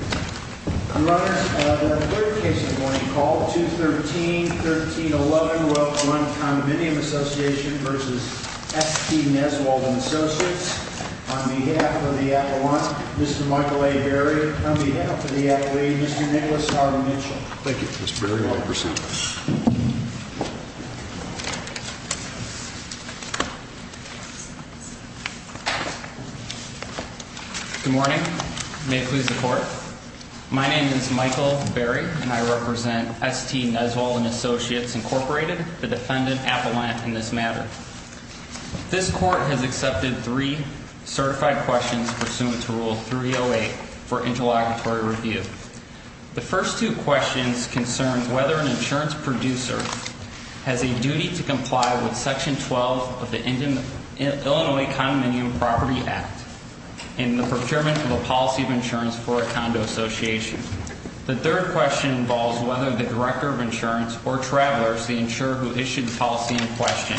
On behalf of the appellant, Mr. Michael A. Berry, and on behalf of the appellate, Mr. Nicholas R. Mitchell. Thank you, Mr. Berry. I'll present. Good morning. May it please the court. My name is Michael Berry, and I represent S.T. Neswold & Associates, Inc., the defendant appellant in this matter. This court has accepted three certified questions pursuant to Rule 308 for interlocutory review. The first two questions concern whether an insurance producer has a duty to comply with Section 12 of the Illinois Condominium Property Act in the procurement of a policy of insurance for a condo association. The third question involves whether the director of insurance or travelers, the insurer who issued the policy in question,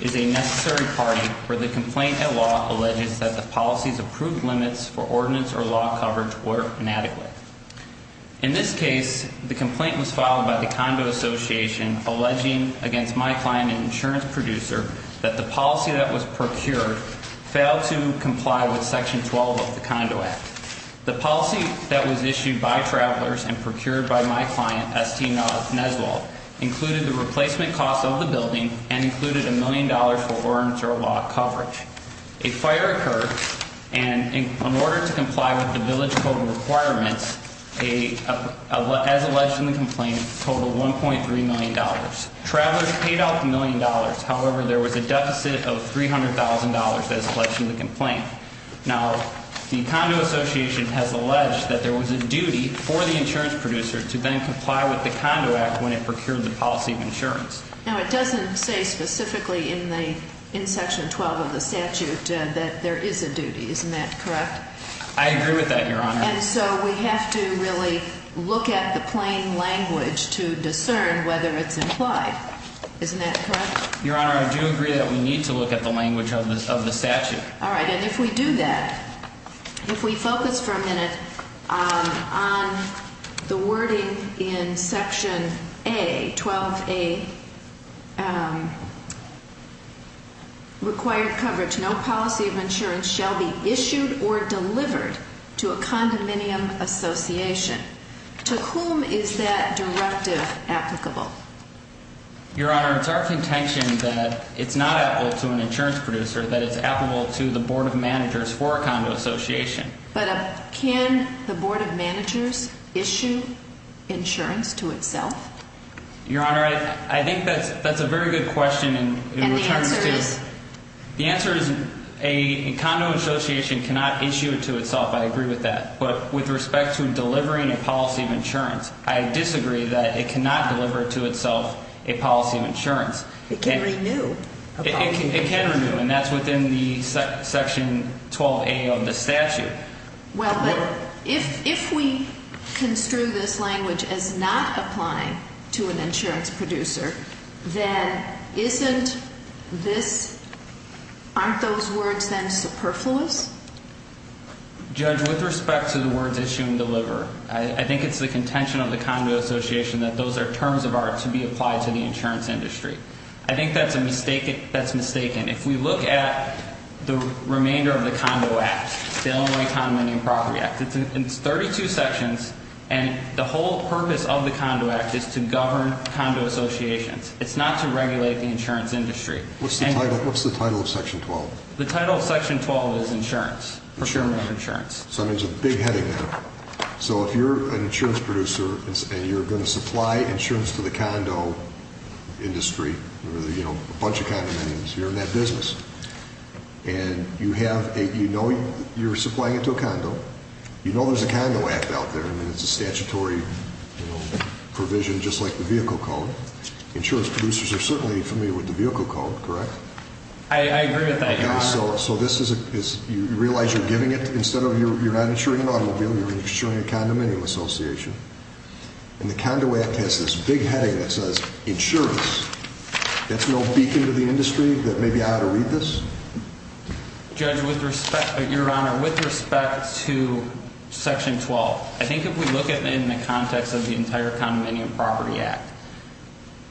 is a necessary party for the complaint that law alleges that the policy's approved limits for ordinance or law coverage were inadequate. In this case, the complaint was filed by the Condo Association alleging against my client, an insurance producer, that the policy that was procured failed to comply with Section 12 of the Condo Act. The policy that was issued by travelers and procured by my client, S.T. Neswold, included the replacement cost of the building and included $1 million for ordinance or law coverage. A fire occurred, and in order to comply with the village code requirements, as alleged in the complaint, totaled $1.3 million. Travelers paid off $1 million. However, there was a deficit of $300,000 as alleged in the complaint. Now, the Condo Association has alleged that there was a duty for the insurance producer to then comply with the Condo Act when it procured the policy of insurance. Now, it doesn't say specifically in Section 12 of the statute that there is a duty. Isn't that correct? I agree with that, Your Honor. And so we have to really look at the plain language to discern whether it's implied. Isn't that correct? Your Honor, I do agree that we need to look at the language of the statute. All right. And if we do that, if we focus for a minute on the wording in Section A, 12A, required coverage, no policy of insurance shall be issued or delivered to a condominium association. To whom is that directive applicable? Your Honor, it's our contention that it's not applicable to an insurance producer, that it's applicable to the Board of Managers for a condo association. But can the Board of Managers issue insurance to itself? Your Honor, I think that's a very good question. And the answer is? The answer is a condo association cannot issue it to itself. I agree with that. But with respect to delivering a policy of insurance, I disagree that it cannot deliver to itself a policy of insurance. It can renew a policy of insurance. It can renew, and that's within the Section 12A of the statute. Well, but if we construe this language as not applying to an insurance producer, then isn't this – aren't those words then superfluous? Judge, with respect to the words issue and deliver, I think it's the contention of the condo association that those are terms of art to be applied to the insurance industry. I think that's mistaken. If we look at the remainder of the Condo Act, the Illinois Condominium Property Act, it's 32 sections, and the whole purpose of the Condo Act is to govern condo associations. It's not to regulate the insurance industry. What's the title of Section 12? The title of Section 12 is insurance, procurement of insurance. So there's a big heading there. So if you're an insurance producer and you're going to supply insurance to the condo industry, a bunch of condominiums here in that business, and you know you're supplying it to a condo, you know there's a condo act out there and it's a statutory provision just like the vehicle code. Insurance producers are certainly familiar with the vehicle code, correct? I agree with that, Your Honor. So this is, you realize you're giving it, instead of you're not insuring an automobile, you're insuring a condominium association. And the Condo Act has this big heading that says insurance. That's no beacon to the industry that maybe I ought to read this? Judge, with respect, Your Honor, with respect to Section 12, I think if we look at it in the context of the entire Condominium Property Act,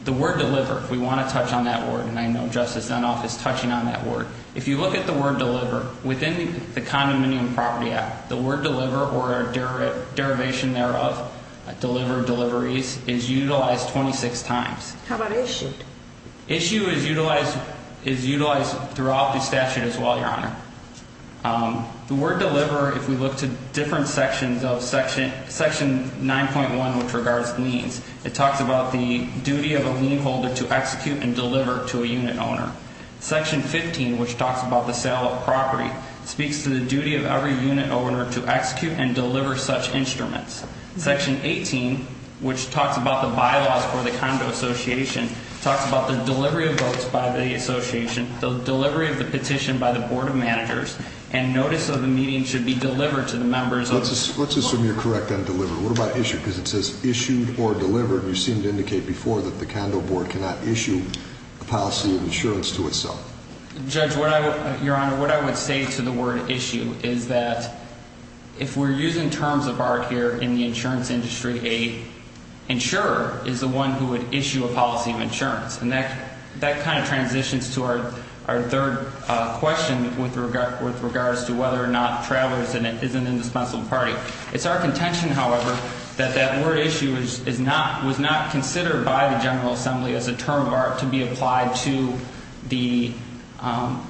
the word deliver, if we want to touch on that word, and I know Justice Dunoff is touching on that word. If you look at the word deliver, within the Condominium Property Act, the word deliver or a derivation thereof, deliver, deliveries, is utilized 26 times. How about issued? Issue is utilized throughout the statute as well, Your Honor. The word deliver, if we look to different sections of Section 9.1, which regards liens, it talks about the duty of a lien holder to execute and deliver to a unit owner. Section 15, which talks about the sale of property, speaks to the duty of every unit owner to execute and deliver such instruments. Section 18, which talks about the bylaws for the condo association, talks about the delivery of votes by the association, the delivery of the petition by the Board of Managers, and notice of the meeting should be delivered to the members of the board. Let's assume you're correct on deliver. What about issued? Because it says issued or delivered. You seemed to indicate before that the condo board cannot issue a policy of insurance to itself. Judge, Your Honor, what I would say to the word issue is that if we're using terms of art here in the insurance industry, an insurer is the one who would issue a policy of insurance. And that kind of transitions to our third question with regards to whether or not travelers is an indispensable party. It's our contention, however, that that word issue was not considered by the General Assembly as a term of art to be applied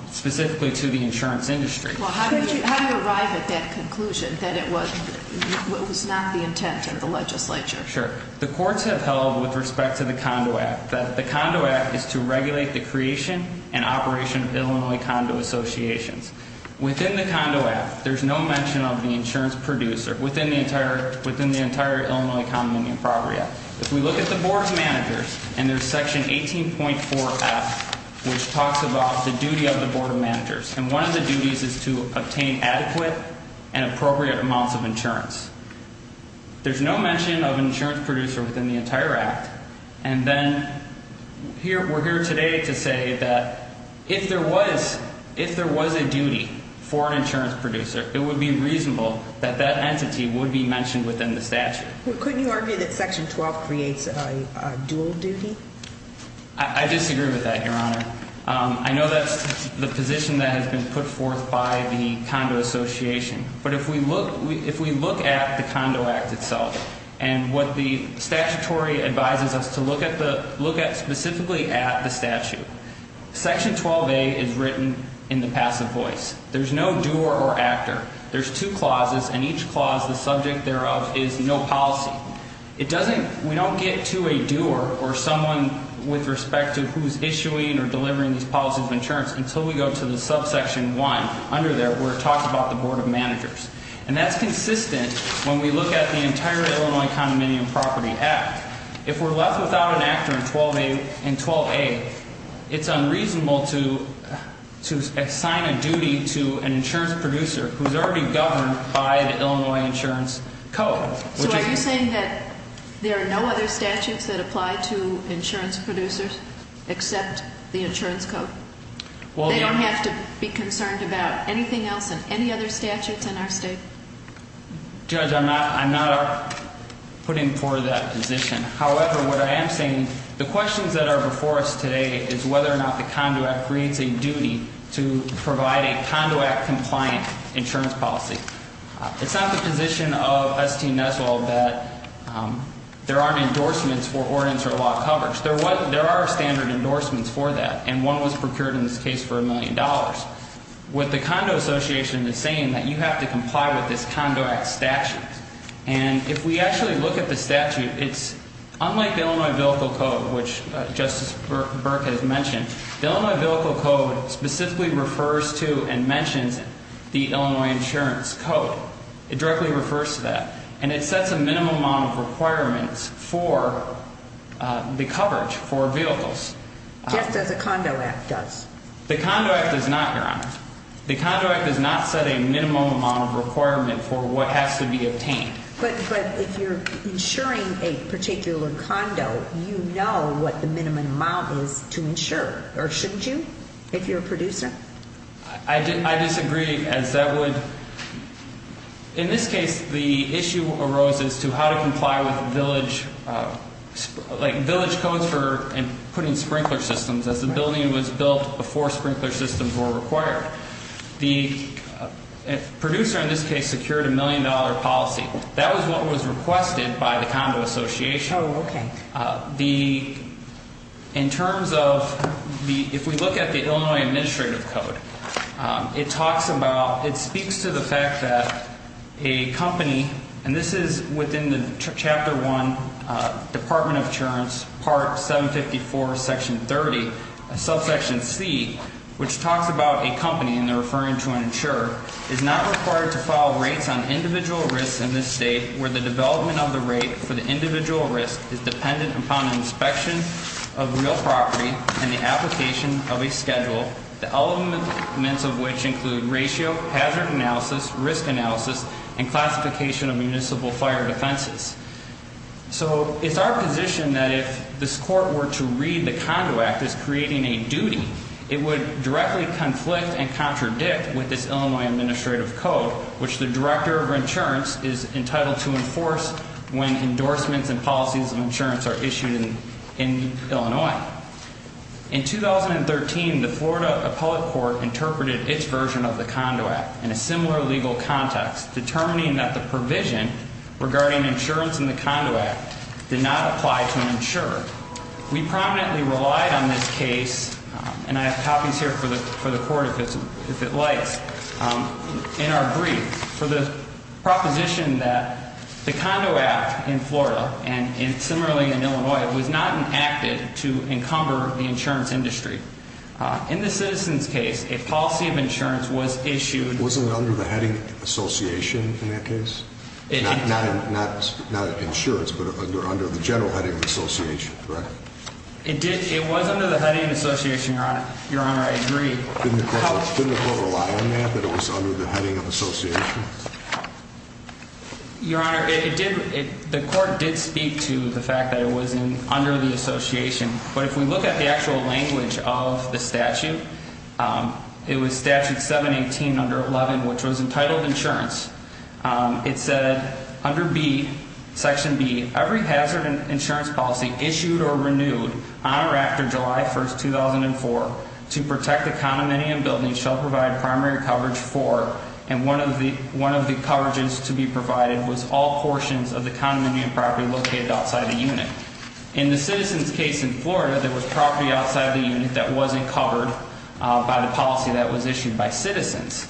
specifically to the insurance industry. Well, how did you arrive at that conclusion that it was not the intent of the legislature? Sure. The courts have held with respect to the Condo Act that the Condo Act is to regulate the creation and operation of Illinois condo associations. Within the Condo Act, there's no mention of the insurance producer within the entire Illinois Common Union Property Act. If we look at the board of managers, and there's section 18.4F, which talks about the duty of the board of managers. And one of the duties is to obtain adequate and appropriate amounts of insurance. There's no mention of insurance producer within the entire act. And then we're here today to say that if there was a duty for an insurance producer, it would be reasonable that that entity would be mentioned within the statute. Well, couldn't you argue that section 12 creates a dual duty? I disagree with that, Your Honor. I know that's the position that has been put forth by the condo association. But if we look at the Condo Act itself and what the statutory advises us to look at specifically at the statute, section 12A is written in the passive voice. There's no doer or actor. There's two clauses, and each clause, the subject thereof, is no policy. We don't get to a doer or someone with respect to who's issuing or delivering these policies of insurance until we go to the subsection 1 under there where it talks about the board of managers. And that's consistent when we look at the entire Illinois Common Union Property Act. If we're left without an actor in 12A, it's unreasonable to assign a duty to an insurance producer who's already governed by the Illinois Insurance Code. So are you saying that there are no other statutes that apply to insurance producers except the insurance code? They don't have to be concerned about anything else in any other statutes in our state? Judge, I'm not putting forth that position. However, what I am saying, the questions that are before us today is whether or not the Condo Act creates a duty to provide a Condo Act-compliant insurance policy. It's not the position of S.T. Neswell that there aren't endorsements for ordinance or law coverage. There are standard endorsements for that, and one was procured in this case for $1 million. What the Condo Association is saying is that you have to comply with this Condo Act statute. And if we actually look at the statute, it's unlike the Illinois Vehicle Code, which Justice Burke has mentioned, the Illinois Vehicle Code specifically refers to and mentions the Illinois Insurance Code. It directly refers to that, and it sets a minimum amount of requirements for the coverage for vehicles. Just as the Condo Act does. The Condo Act does not set a minimum amount of requirement for what has to be obtained. But if you're insuring a particular condo, you know what the minimum amount is to insure, or shouldn't you, if you're a producer? I disagree, as that would- The producer, in this case, secured a $1 million policy. That was what was requested by the Condo Association. Oh, okay. The- in terms of the- if we look at the Illinois Administrative Code, it talks about- it speaks to the fact that a company- And this is within the Chapter 1, Department of Insurance, Part 754, Section 30, Subsection C, which talks about a company, and they're referring to an insurer, is not required to file rates on individual risks in this state where the development of the rate for the individual risk is dependent upon inspection of real property and the application of a schedule, the elements of which include ratio, hazard analysis, risk analysis, and classification of municipal fire defenses. So it's our position that if this Court were to read the Condo Act as creating a duty, it would directly conflict and contradict with this Illinois Administrative Code, which the Director of Insurance is entitled to enforce when endorsements and policies of insurance are issued in Illinois. In 2013, the Florida Appellate Court interpreted its version of the Condo Act in a similar legal context, determining that the provision regarding insurance in the Condo Act did not apply to an insurer. We prominently relied on this case, and I have copies here for the Court, if it likes, in our brief, for the proposition that the Condo Act in Florida and similarly in Illinois was not enacted to encumber the insurance industry. In the citizen's case, a policy of insurance was issued. It wasn't under the heading of association in that case? Not insurance, but under the general heading of association, correct? It was under the heading of association, Your Honor. Your Honor, I agree. Didn't the Court rely on that, that it was under the heading of association? Your Honor, it did, the Court did speak to the fact that it was under the association, but if we look at the actual language of the statute, it was Statute 718 under 11, which was entitled insurance. It said under B, Section B, every hazard insurance policy issued or renewed on or after July 1, 2004, to protect the condominium building shall provide primary coverage for, and one of the coverages to be provided was all portions of the condominium property located outside the unit. In the citizen's case in Florida, there was property outside the unit that wasn't covered by the policy that was issued by citizens.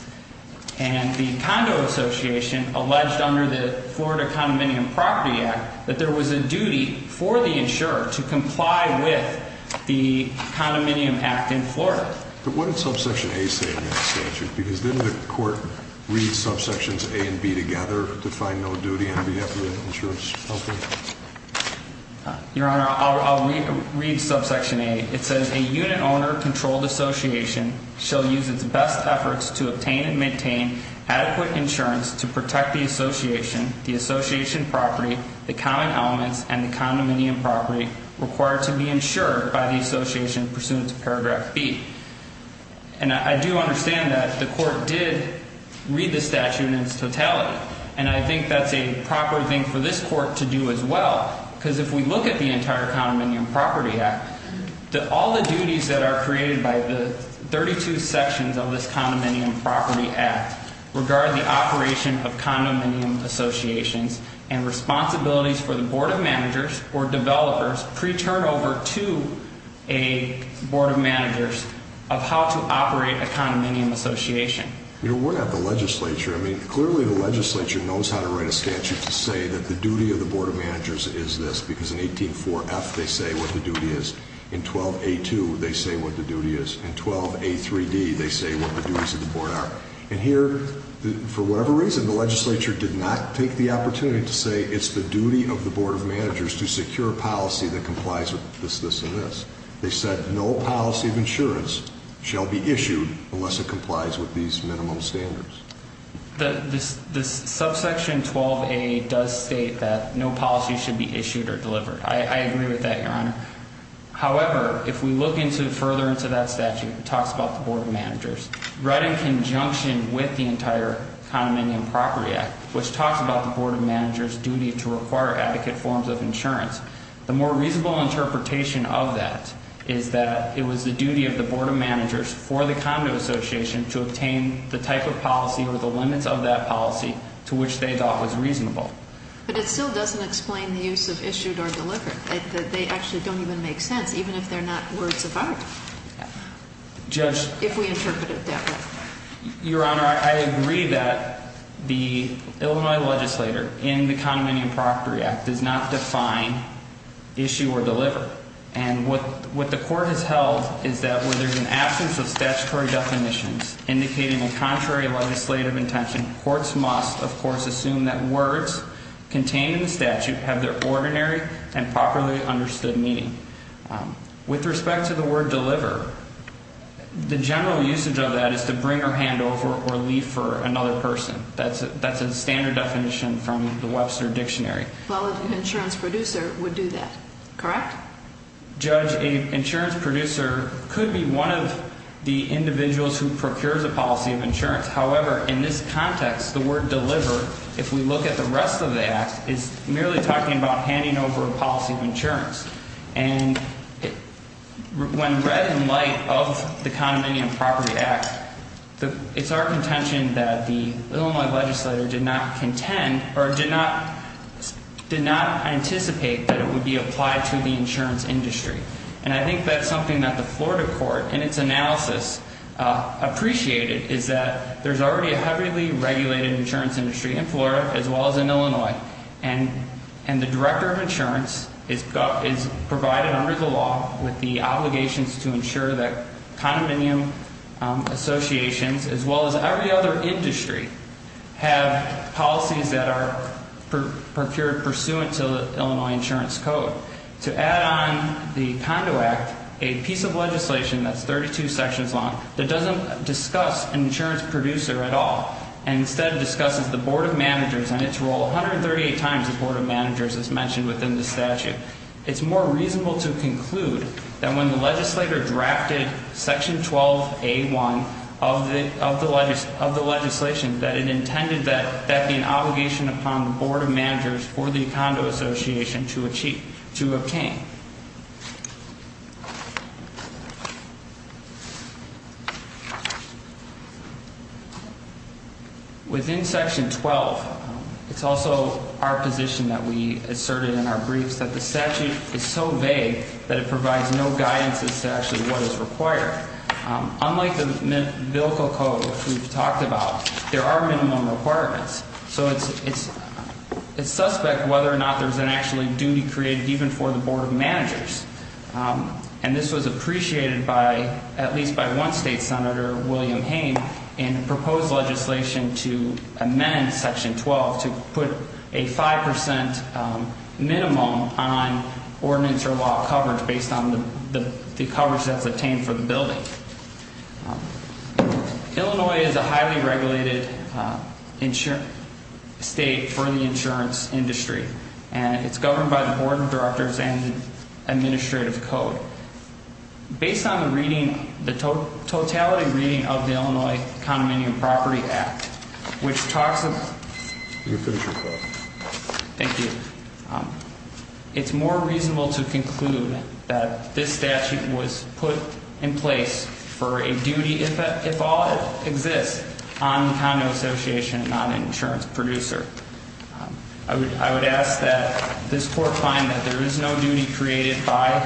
And the Condo Association alleged under the Florida Condominium Property Act that there was a duty for the insurer to comply with the Condominium Act in Florida. But what did subsection A say in that statute? Because didn't the Court read subsections A and B together to find no duty on behalf of the insurance company? Your Honor, I'll read subsection A. It says a unit owner controlled association shall use its best efforts to obtain and maintain adequate insurance to protect the association, the association property, the common elements, and the condominium property required to be insured by the association pursuant to paragraph B. And I do understand that the Court did read the statute in its totality, and I think that's a proper thing for this Court to do as well, because if we look at the entire Condominium Property Act, all the duties that are created by the 32 sections of this Condominium Property Act regard the operation of condominium associations and responsibilities for the board of managers or developers pre-turnover to a board of managers of how to operate a condominium association. Your Honor, we're not the legislature. I mean, clearly the legislature knows how to write a statute to say that the duty of the board of managers is this, because in 18.4.F they say what the duty is. In 12.A.2 they say what the duty is. In 12.A.3.D they say what the duties of the board are. And here, for whatever reason, the legislature did not take the opportunity to say it's the duty of the board of managers to secure a policy that complies with this, this, and this. They said no policy of insurance shall be issued unless it complies with these minimum standards. The subsection 12.A. does state that no policy should be issued or delivered. I agree with that, Your Honor. However, if we look further into that statute, it talks about the board of managers. Right in conjunction with the entire Condominium Property Act, which talks about the board of managers' duty to require adequate forms of insurance, the more reasonable interpretation of that is that it was the duty of the board of managers for the condo association to obtain the type of policy or the limits of that policy to which they thought was reasonable. But it still doesn't explain the use of issued or delivered. They actually don't even make sense, even if they're not words of art. Judge? If we interpret it that way. Your Honor, I agree that the Illinois legislator in the Condominium Property Act does not define issue or deliver. And what the court has held is that where there's an absence of statutory definitions indicating a contrary legislative intention, courts must, of course, assume that words contained in the statute have their ordinary and properly understood meaning. With respect to the word deliver, the general usage of that is to bring or hand over or leave for another person. That's a standard definition from the Webster Dictionary. Well, an insurance producer would do that, correct? Judge, an insurance producer could be one of the individuals who procures a policy of insurance. However, in this context, the word deliver, if we look at the rest of the act, is merely talking about handing over a policy of insurance. And when read in light of the Condominium Property Act, it's our contention that the Illinois legislator did not contend or did not anticipate that it would be applied to the insurance industry. And I think that's something that the Florida court, in its analysis, appreciated, is that there's already a heavily regulated insurance industry in Florida as well as in Illinois. And the director of insurance is provided under the law with the obligations to ensure that condominium associations, as well as every other industry, have policies that are procured pursuant to the Illinois Insurance Code. To add on the Condo Act, a piece of legislation that's 32 sections long that doesn't discuss an insurance producer at all and instead discusses the board of managers and its role 138 times the board of managers as mentioned within the statute, it's more reasonable to conclude that when the legislator drafted section 12A1 of the legislation, that it intended that that be an obligation upon the board of managers for the condo association to obtain. Within section 12, it's also our position that we asserted in our briefs that the statute is so vague that it provides no guidance as to actually what is required. Unlike the bill code we've talked about, there are minimum requirements. So it's suspect whether or not there's an actual duty created even for the board of managers. And this was appreciated by at least by one state senator, William Hayne, in proposed legislation to amend section 12 to put a 5% minimum on ordinance or law coverage based on the coverage that's obtained for the building. Illinois is a highly regulated state for the insurance industry. And it's governed by the board of directors and administrative code. Based on the reading, the totality reading of the Illinois Condominium Property Act, which talks of... You can finish your quote. Thank you. It's more reasonable to conclude that this statute was put in place for a duty, if at all it exists, on the condo association, not an insurance producer. I would ask that this court find that there is no duty created by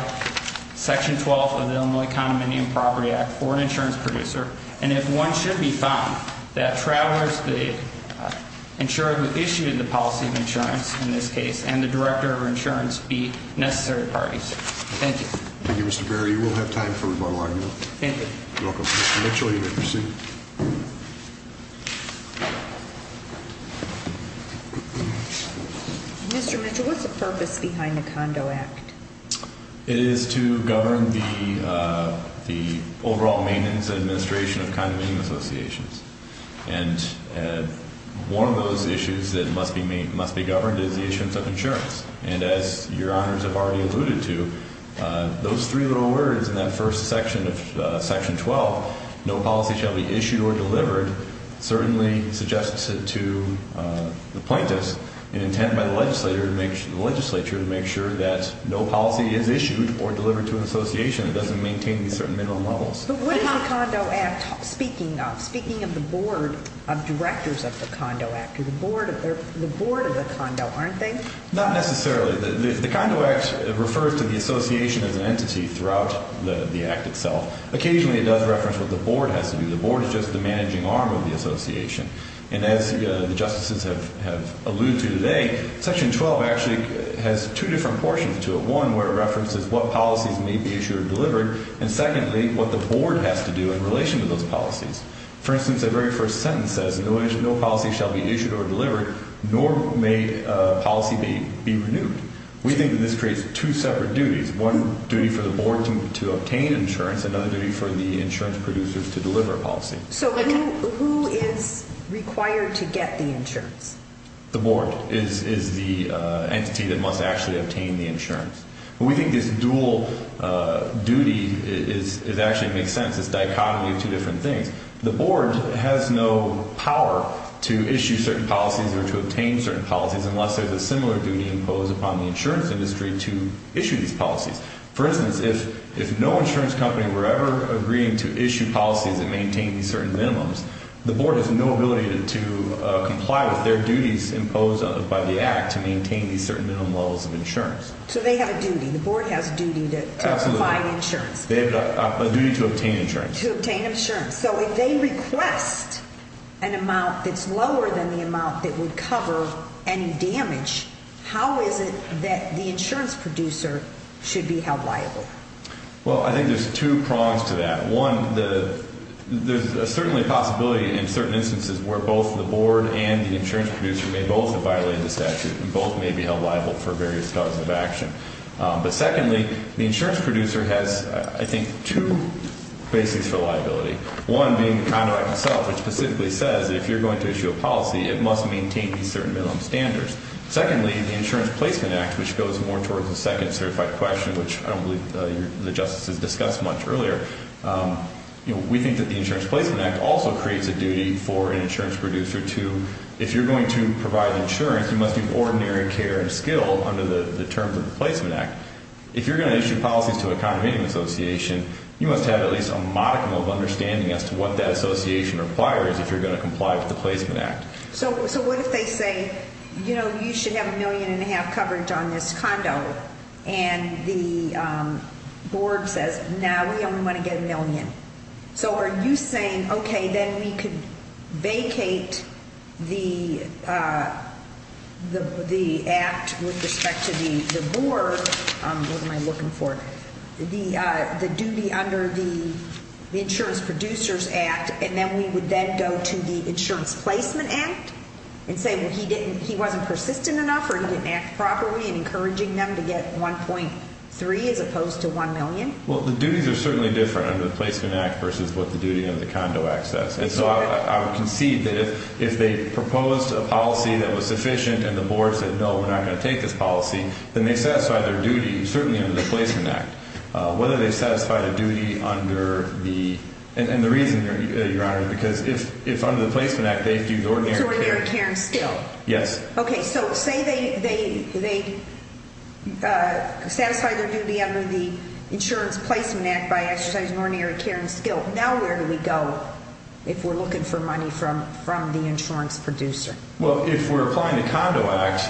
section 12 of the Illinois Condominium Property Act for an insurance producer. And if one should be found, that travelers, the insurer who issued the policy of insurance in this case, and the director of insurance be necessary parties. Thank you. Thank you, Mr. Barry. You will have time for rebuttal argument. Thank you. You're welcome. Mr. Mitchell, you may proceed. Mr. Mitchell, what's the purpose behind the Condo Act? It is to govern the overall maintenance and administration of condominium associations. And one of those issues that must be governed is the issuance of insurance. And as your honors have already alluded to, those three little words in that first section of section 12, no policy shall be issued or delivered, certainly suggests it to the plaintiffs, and intended by the legislature to make sure that no policy is issued or delivered to an association that doesn't maintain these certain minimum levels. But what is the Condo Act speaking of? Speaking of the board of directors of the Condo Act. They're the board of the condo, aren't they? Not necessarily. The Condo Act refers to the association as an entity throughout the act itself. Occasionally, it does reference what the board has to do. The board is just the managing arm of the association. And as the justices have alluded to today, section 12 actually has two different portions to it. One, where it references what policies may be issued or delivered, and secondly, what the board has to do in relation to those policies. For instance, that very first sentence says, no policy shall be issued or delivered, nor may policy be renewed. We think that this creates two separate duties, one duty for the board to obtain insurance, another duty for the insurance producers to deliver a policy. So who is required to get the insurance? The board is the entity that must actually obtain the insurance. We think this dual duty actually makes sense. It's a dichotomy of two different things. The board has no power to issue certain policies or to obtain certain policies unless there's a similar duty imposed upon the insurance industry to issue these policies. For instance, if no insurance company were ever agreeing to issue policies that maintain these certain minimums, the board has no ability to comply with their duties imposed by the act to maintain these certain minimum levels of insurance. So they have a duty. The board has a duty to provide insurance. They have a duty to obtain insurance. To obtain insurance. So if they request an amount that's lower than the amount that would cover any damage, how is it that the insurance producer should be held liable? Well, I think there's two prongs to that. One, there's certainly a possibility in certain instances where both the board and the insurance producer may both have violated the statute and both may be held liable for various causes of action. But secondly, the insurance producer has, I think, two bases for liability. One being the Conduct Act itself, which specifically says if you're going to issue a policy, it must maintain these certain minimum standards. Secondly, the Insurance Placement Act, which goes more towards the second certified question, which I don't believe the justices discussed much earlier. We think that the Insurance Placement Act also creates a duty for an insurance producer to, if you're going to provide insurance, you must do ordinary care and skill under the terms of the Placement Act. If you're going to issue policies to a condominium association, you must have at least a modicum of understanding as to what that association requires if you're going to comply with the Placement Act. So what if they say, you know, you should have a million and a half coverage on this condo? And the board says, no, we only want to get a million. So are you saying, okay, then we could vacate the act with respect to the board? What am I looking for? The duty under the Insurance Producers Act, and then we would then go to the Insurance Placement Act and say, well, he wasn't persistent enough or he didn't act properly in encouraging them to get 1.3 as opposed to 1 million? Well, the duties are certainly different under the Placement Act versus what the duty under the Condo Act says. And so I would concede that if they proposed a policy that was sufficient and the board said, no, we're not going to take this policy, then they satisfy their duty, certainly under the Placement Act. Whether they satisfy the duty under the – and the reason, Your Honor, is because if under the Placement Act they do ordinary care and skill. Yes. Okay, so say they satisfy their duty under the Insurance Placement Act by exercising ordinary care and skill. Now where do we go if we're looking for money from the insurance producer? Well, if we're applying the Condo Act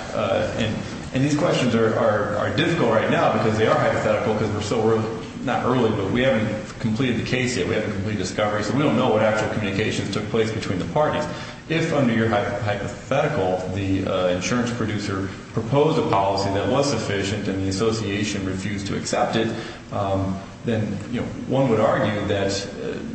– and these questions are difficult right now because they are hypothetical because we're so – not early, but we haven't completed the case yet. We haven't completed the discovery, so we don't know what actual communications took place between the parties. If under your hypothetical the insurance producer proposed a policy that was sufficient and the association refused to accept it, then one would argue that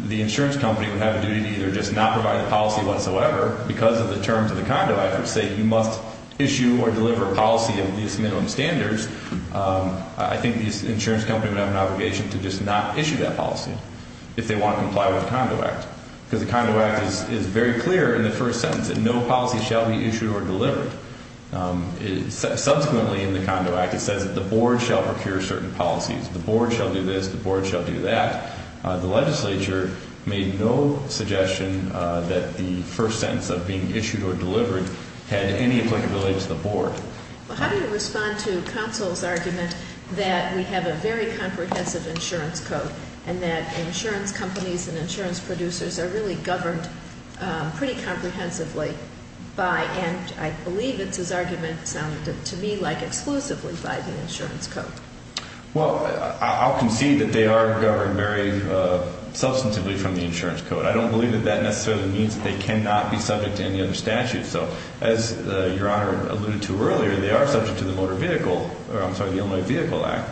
the insurance company would have a duty to either just not provide the policy whatsoever because of the terms of the Condo Act which say you must issue or deliver a policy of these minimum standards. I think the insurance company would have an obligation to just not issue that policy if they want to comply with the Condo Act because the Condo Act is very clear in the first sentence that no policy shall be issued or delivered. Subsequently in the Condo Act it says that the board shall procure certain policies. The board shall do this, the board shall do that. The legislature made no suggestion that the first sentence of being issued or delivered had any applicability to the board. Well, how do you respond to Consul's argument that we have a very comprehensive insurance code and that insurance companies and insurance producers are really governed pretty comprehensively by – and I believe it's his argument sounded to me like exclusively by the insurance code. Well, I'll concede that they are governed very substantively from the insurance code. I don't believe that that necessarily means that they cannot be subject to any other statute. So as Your Honor alluded to earlier, they are subject to the Motor Vehicle – or I'm sorry, the Illinois Vehicle Act.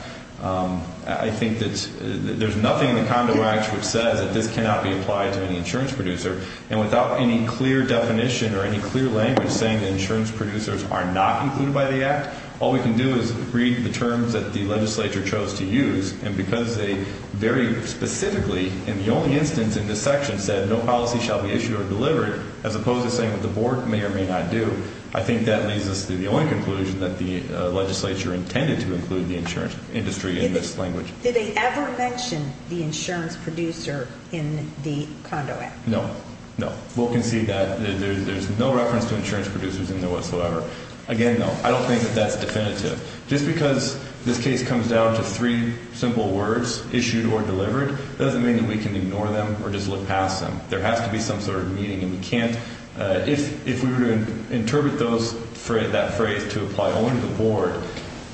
I think that there's nothing in the Condo Act which says that this cannot be applied to any insurance producer. And without any clear definition or any clear language saying that insurance producers are not included by the act, all we can do is read the terms that the legislature chose to use. And because they very specifically in the only instance in this section said no policy shall be issued or delivered as opposed to saying that the board may or may not do, I think that leads us to the only conclusion that the legislature intended to include the insurance industry in this language. Did they ever mention the insurance producer in the Condo Act? No, no. We'll concede that there's no reference to insurance producers in there whatsoever. Again, no. I don't think that that's definitive. Just because this case comes down to three simple words, issued or delivered, doesn't mean that we can ignore them or just look past them. There has to be some sort of meaning, and we can't. If we were to interpret that phrase to apply only to the board,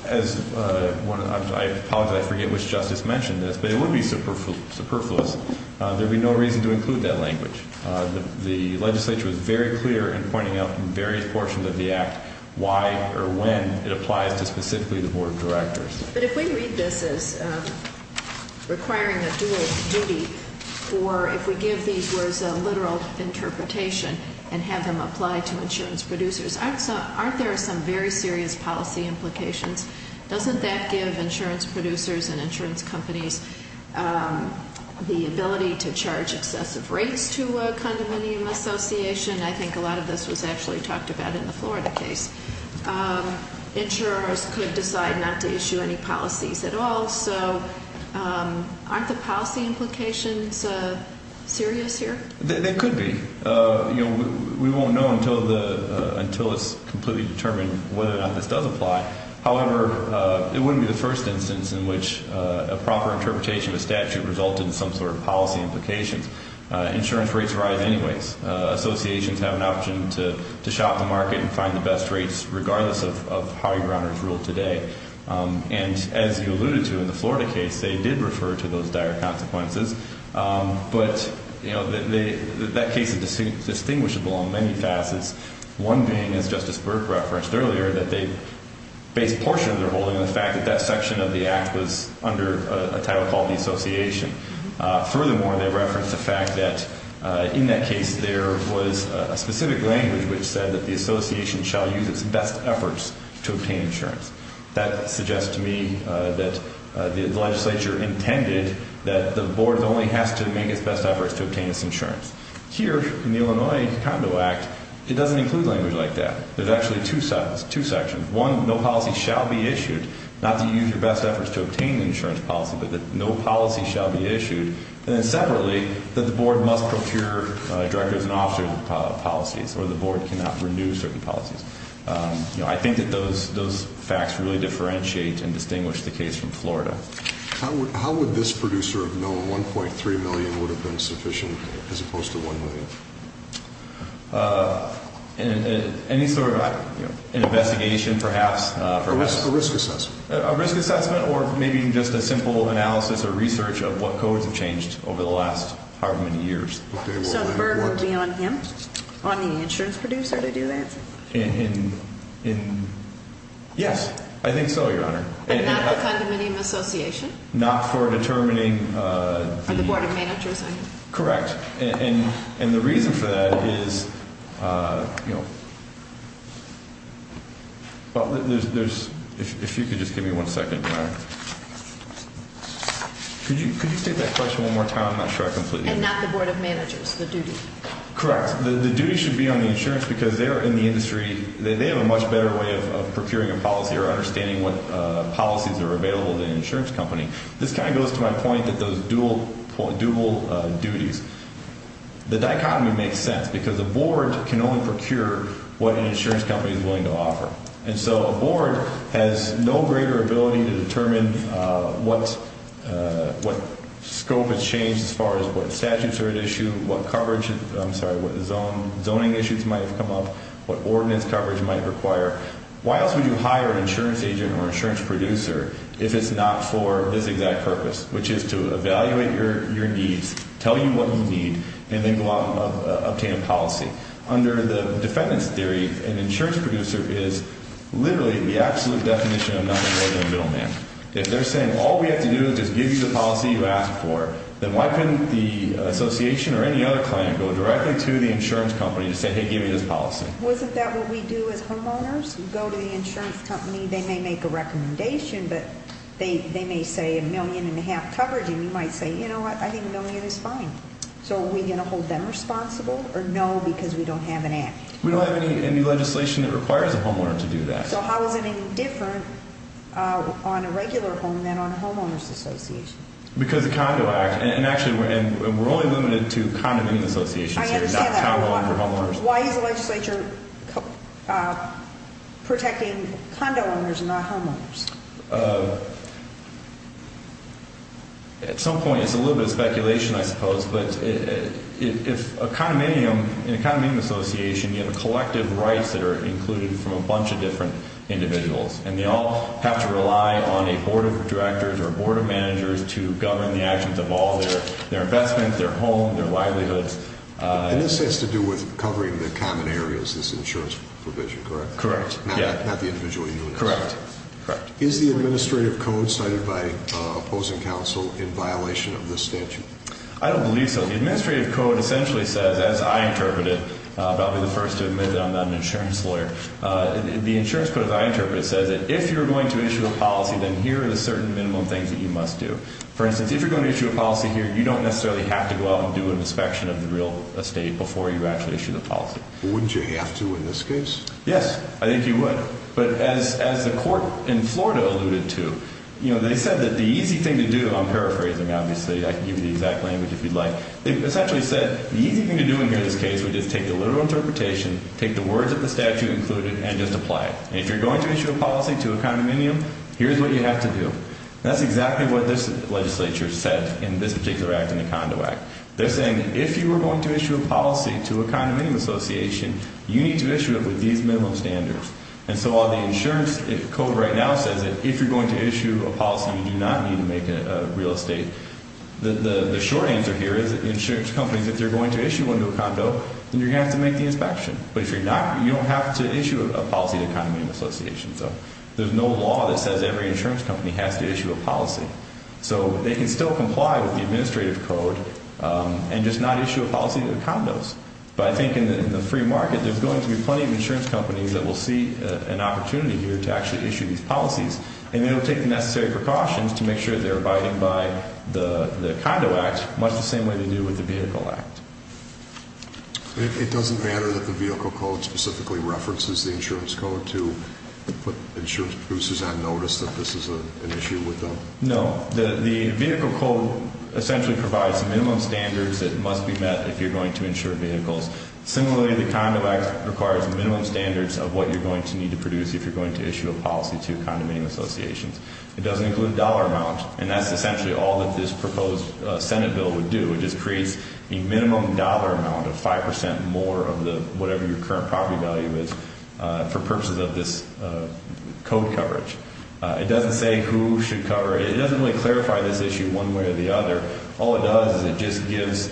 I apologize, I forget which justice mentioned this, but it would be superfluous. There would be no reason to include that language. The legislature was very clear in pointing out in various portions of the act why or when it applies to specifically the board of directors. But if we read this as requiring a dual duty or if we give these words a literal interpretation and have them apply to insurance producers, aren't there some very serious policy implications? Doesn't that give insurance producers and insurance companies the ability to charge excessive rates to a condominium association? I think a lot of this was actually talked about in the Florida case. Insurers could decide not to issue any policies at all, so aren't the policy implications serious here? They could be. We won't know until it's completely determined whether or not this does apply. However, it wouldn't be the first instance in which a proper interpretation of a statute resulted in some sort of policy implications. Insurance rates rise anyways. Associations have an option to shop the market and find the best rates regardless of how you run or rule today. And as you alluded to in the Florida case, they did refer to those dire consequences. But that case is distinguishable on many facets, one being, as Justice Burke referenced earlier, that they base a portion of their holding on the fact that that section of the act was under a title called the association. Furthermore, they referenced the fact that in that case there was a specific language which said that the association shall use its best efforts to obtain insurance. That suggests to me that the legislature intended that the board only has to make its best efforts to obtain its insurance. Here, in the Illinois Condo Act, it doesn't include language like that. There's actually two sections. One, no policy shall be issued, not to use your best efforts to obtain insurance policy, but that no policy shall be issued. And then separately, that the board must procure directors and officers of policies or the board cannot renew certain policies. I think that those facts really differentiate and distinguish the case from Florida. How would this producer have known $1.3 million would have been sufficient as opposed to $1 million? Any sort of investigation, perhaps? A risk assessment. A risk assessment or maybe just a simple analysis or research of what codes have changed over the last however many years. So the burden would be on him, on the insurance producer, to do that? Yes, I think so, Your Honor. And not the condominium association? Not for determining the- Or the board of managers, I mean. Correct. And the reason for that is, you know, well, there's-if you could just give me one second, Your Honor. Could you state that question one more time? I'm not sure I completely- And not the board of managers, the duty. Correct. The duty should be on the insurance because they are in the industry, they have a much better way of procuring a policy or understanding what policies are available to an insurance company. This kind of goes to my point that those dual duties. The dichotomy makes sense because a board can only procure what an insurance company is willing to offer. And so a board has no greater ability to determine what scope has changed as far as what statutes are at issue, what coverage-I'm sorry, what zoning issues might have come up, what ordinance coverage might require. Why else would you hire an insurance agent or insurance producer if it's not for this exact purpose, which is to evaluate your needs, tell you what you need, and then go out and obtain a policy? Under the defendant's theory, an insurance producer is literally the absolute definition of nothing more than a middleman. If they're saying all we have to do is just give you the policy you asked for, then why couldn't the association or any other client go directly to the insurance company and say, hey, give me this policy? Wasn't that what we do as homeowners? We go to the insurance company. They may make a recommendation, but they may say a million and a half coverage, and you might say, you know what, I think a million is fine. So are we going to hold them responsible or no because we don't have an act? We don't have any legislation that requires a homeowner to do that. So how is it any different on a regular home than on a homeowners association? Because the Condo Act, and actually we're only limited to condominium associations here, not condo owners or homeowners. Why is the legislature protecting condo owners and not homeowners? At some point it's a little bit of speculation, I suppose, but if a condominium association, you have collective rights that are included from a bunch of different individuals, and they all have to rely on a board of directors or a board of managers to govern the actions of all their investments, their home, their livelihoods. And this has to do with covering the common areas, this insurance provision, correct? Correct. Not the individual union. Correct. Is the administrative code cited by opposing counsel in violation of this statute? I don't believe so. The administrative code essentially says, as I interpret it, I'll probably be the first to admit that I'm not an insurance lawyer, the insurance code, as I interpret it, says that if you're going to issue a policy, then here are the certain minimum things that you must do. For instance, if you're going to issue a policy here, you don't necessarily have to go out and do an inspection of the real estate before you actually issue the policy. Wouldn't you have to in this case? Yes, I think you would. But as the court in Florida alluded to, you know, they said that the easy thing to do, I'm paraphrasing obviously, I can give you the exact language if you'd like, they essentially said the easy thing to do in this case would just take the literal interpretation, take the words of the statute included, and just apply it. And if you're going to issue a policy to a condominium, here's what you have to do. That's exactly what this legislature said in this particular act, in the Condo Act. They're saying that if you were going to issue a policy to a condominium association, you need to issue it with these minimum standards. And so while the insurance code right now says that if you're going to issue a policy, you do not need to make a real estate, the short answer here is that insurance companies, if you're going to issue one to a condo, then you're going to have to make the inspection. But if you're not, you don't have to issue a policy to a condominium association. So there's no law that says every insurance company has to issue a policy. So they can still comply with the administrative code and just not issue a policy to the condos. But I think in the free market, there's going to be plenty of insurance companies that will see an opportunity here to actually issue these policies, and they'll take the necessary precautions to make sure they're abiding by the Condo Act, much the same way they do with the Vehicle Act. It doesn't matter that the Vehicle Code specifically references the insurance code to put insurance producers on notice that this is an issue with them? No. The Vehicle Code essentially provides minimum standards that must be met if you're going to insure vehicles. Similarly, the Condo Act requires minimum standards of what you're going to need to produce if you're going to issue a policy to condominium associations. It doesn't include dollar amount, and that's essentially all that this proposed Senate bill would do. It just creates a minimum dollar amount of 5% more of whatever your current property value is for purposes of this code coverage. It doesn't say who should cover it. It doesn't really clarify this issue one way or the other. All it does is it just gives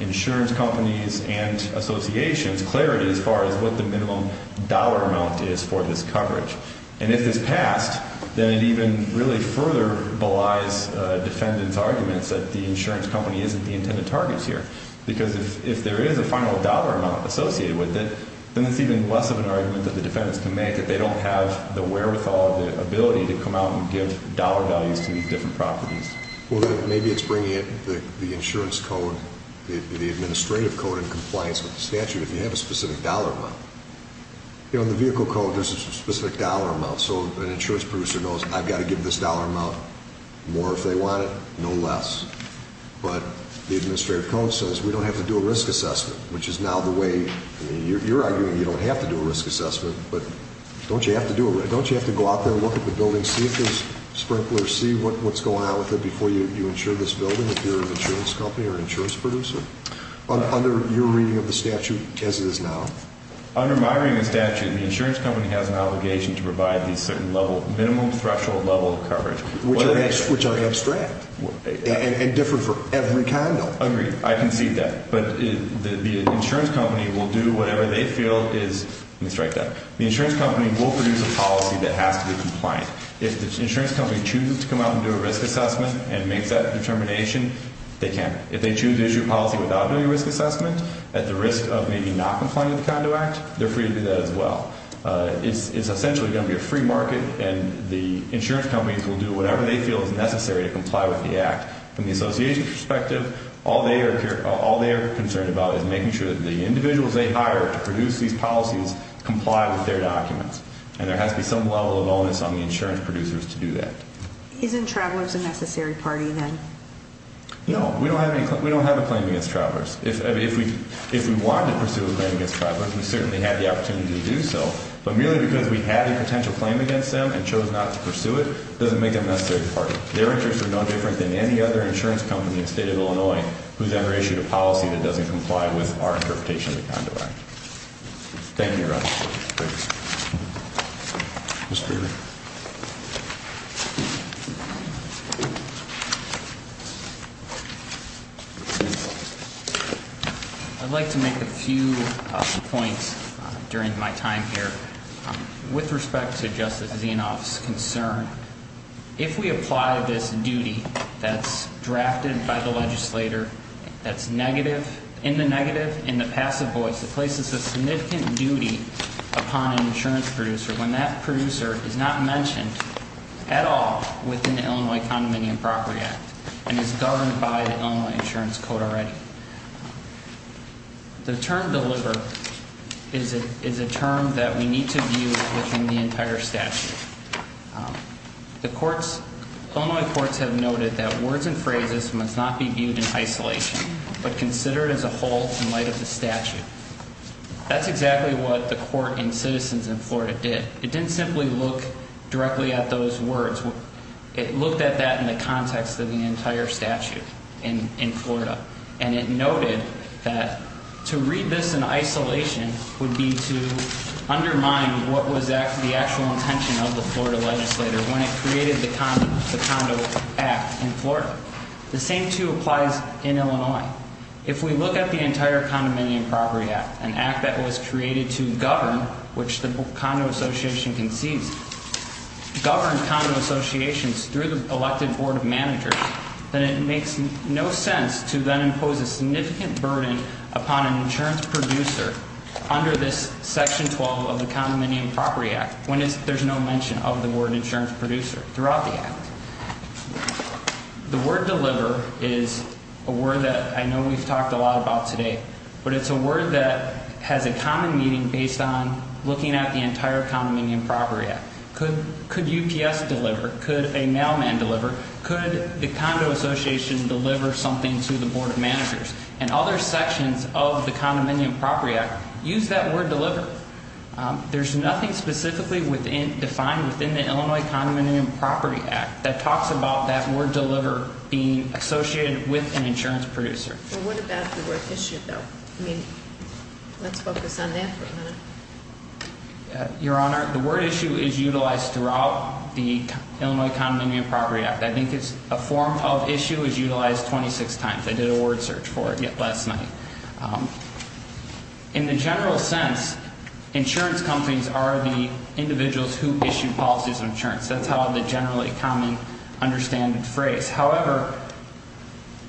insurance companies and associations clarity as far as what the minimum dollar amount is for this coverage. And if it's passed, then it even really further belies defendants' arguments that the insurance company isn't the intended target here. Because if there is a final dollar amount associated with it, then it's even less of an argument that the defendants can make that they don't have the wherewithal or the ability to come out and give dollar values to these different properties. Well, then maybe it's bringing the insurance code, the administrative code, in compliance with the statute if you have a specific dollar amount. You know, in the Vehicle Code, there's a specific dollar amount, so an insurance producer knows I've got to give this dollar amount more if they want it, no less. But the administrative code says we don't have to do a risk assessment, which is now the way you're arguing you don't have to do a risk assessment. But don't you have to go out there and look at the building, see if there's sprinklers, see what's going on with it before you insure this building if you're an insurance company or an insurance producer? Under your reading of the statute as it is now? Under my reading of the statute, the insurance company has an obligation to provide the minimum threshold level of coverage. Which are abstract and different for every kind, though. Agreed. I concede that. But the insurance company will do whatever they feel is – let me strike that – the insurance company will produce a policy that has to be compliant. If the insurance company chooses to come out and do a risk assessment and makes that determination, they can. If they choose to issue a policy without doing a risk assessment, at the risk of maybe not complying with the Condo Act, they're free to do that as well. It's essentially going to be a free market, and the insurance companies will do whatever they feel is necessary to comply with the Act. From the association's perspective, all they are concerned about is making sure that the individuals they hire to produce these policies comply with their documents. And there has to be some level of onus on the insurance producers to do that. Isn't Travelers a necessary party, then? No. We don't have a claim against Travelers. If we wanted to pursue a claim against Travelers, we certainly had the opportunity to do so. But merely because we had a potential claim against them and chose not to pursue it, doesn't make them a necessary party. Their interests are no different than any other insurance company in the state of Illinois who's ever issued a policy that doesn't comply with our interpretation of the Condo Act. Thank you, Your Honor. Thank you, sir. Mr. Greenberg. I'd like to make a few points during my time here. With respect to Justice Zinoff's concern, if we apply this duty that's drafted by the legislator that's negative, in the negative, in the passive voice, it places a significant duty upon an insurance producer when that producer is not mentioned at all within the Illinois Condominium Property Act. And is governed by the Illinois Insurance Code already. The term deliver is a term that we need to view within the entire statute. Illinois courts have noted that words and phrases must not be viewed in isolation, but considered as a whole in light of the statute. That's exactly what the court in Citizens in Florida did. It didn't simply look directly at those words. It looked at that in the context of the entire statute in Florida. And it noted that to read this in isolation would be to undermine what was the actual intention of the Florida legislator when it created the Condo Act in Florida. The same, too, applies in Illinois. If we look at the entire Condominium Property Act, an act that was created to govern, which the Condo Association concedes, govern Condo Associations through the elected board of managers, then it makes no sense to then impose a significant burden upon an insurance producer under this section 12 of the Condominium Property Act when there's no mention of the word insurance producer throughout the act. The word deliver is a word that I know we've talked a lot about today, but it's a word that has a common meaning based on the entire Condominium Property Act. Could UPS deliver? Could a mailman deliver? Could the Condo Association deliver something to the board of managers? And other sections of the Condominium Property Act use that word deliver. There's nothing specifically defined within the Illinois Condominium Property Act that talks about that word deliver being associated with an insurance producer. Well, what about the word issue, though? I mean, let's focus on that for a minute. Your Honor, the word issue is utilized throughout the Illinois Condominium Property Act. I think a form of issue is utilized 26 times. I did a word search for it last night. In the general sense, insurance companies are the individuals who issue policies of insurance. That's the generally common, understanded phrase. However,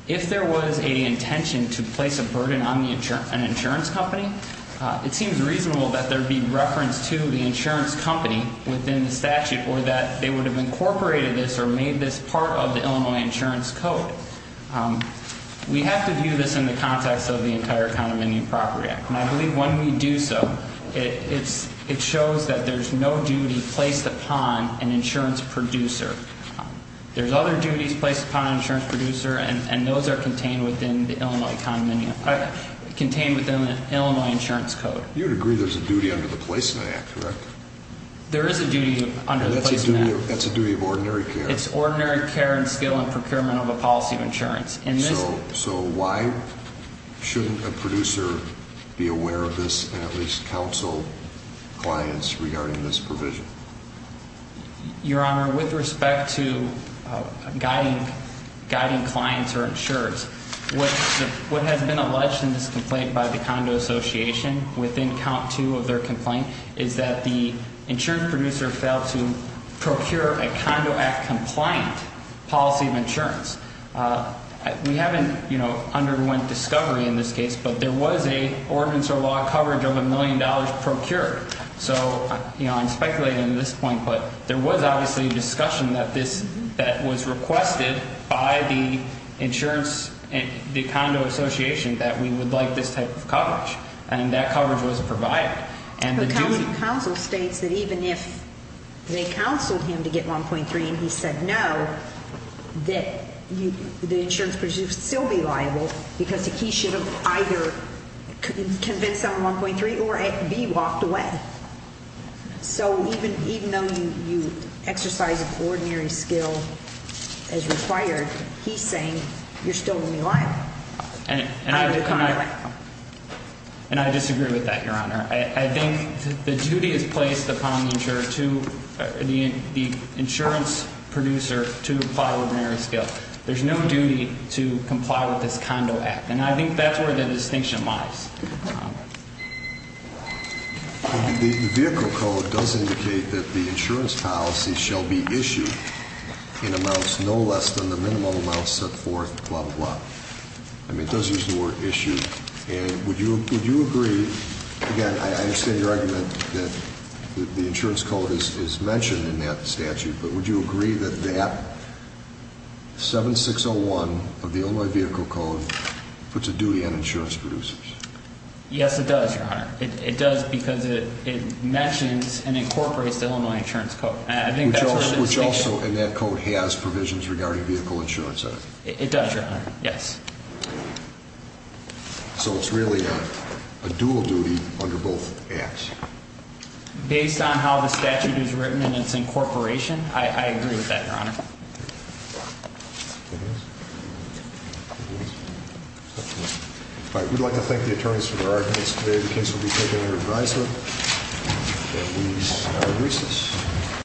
if there was an intention to place a burden on an insurance company, it seems reasonable that there would be reference to the insurance company within the statute or that they would have incorporated this or made this part of the Illinois Insurance Code. We have to view this in the context of the entire Condominium Property Act. And I believe when we do so, it shows that there's no duty placed upon an insurance producer. There's other duties placed upon an insurance producer, and those are contained within the Illinois Insurance Code. You would agree there's a duty under the Placement Act, correct? There is a duty under the Placement Act. That's a duty of ordinary care. It's ordinary care and skill and procurement of a policy of insurance. So why shouldn't a producer be aware of this and at least counsel clients regarding this provision? Your Honor, with respect to guiding clients or insurers, what has been alleged in this complaint by the Condo Association, within count two of their complaint, is that the insurance producer failed to procure a Condo Act-compliant policy of insurance. We haven't, you know, underwent discovery in this case, but there was an ordinance or law coverage of a million dollars procured. So, you know, I'm speculating at this point, but there was obviously a discussion that this, that was requested by the insurance, the Condo Association, that we would like this type of coverage. And that coverage wasn't provided. Counsel states that even if they counseled him to get 1.3 and he said no, that the insurance producer would still be liable because he should have either convinced him of 1.3 or be walked away. So even though you exercise ordinary skill as required, he's saying you're still going to be liable. And I disagree with that, Your Honor. I think the duty is placed upon the insurance producer to apply ordinary skill. There's no duty to comply with this Condo Act. And I think that's where the distinction lies. The vehicle code does indicate that the insurance policy shall be issued in amounts no less than the minimum amount set forth, blah, blah, blah. I mean, it does use the word issue. And would you agree, again, I understand your argument that the insurance code is mentioned in that statute, but would you agree that that 7601 of the Illinois Vehicle Code puts a duty on insurance producers? Yes, it does, Your Honor. It does because it mentions and incorporates the Illinois Insurance Code. Which also, in that code, has provisions regarding vehicle insurance on it. It does, Your Honor, yes. So it's really a dual duty under both acts. Based on how the statute is written and its incorporation, I agree with that, Your Honor. All right, we'd like to thank the attorneys for their arguments today. The case will be taken under advisement. And we are recessed.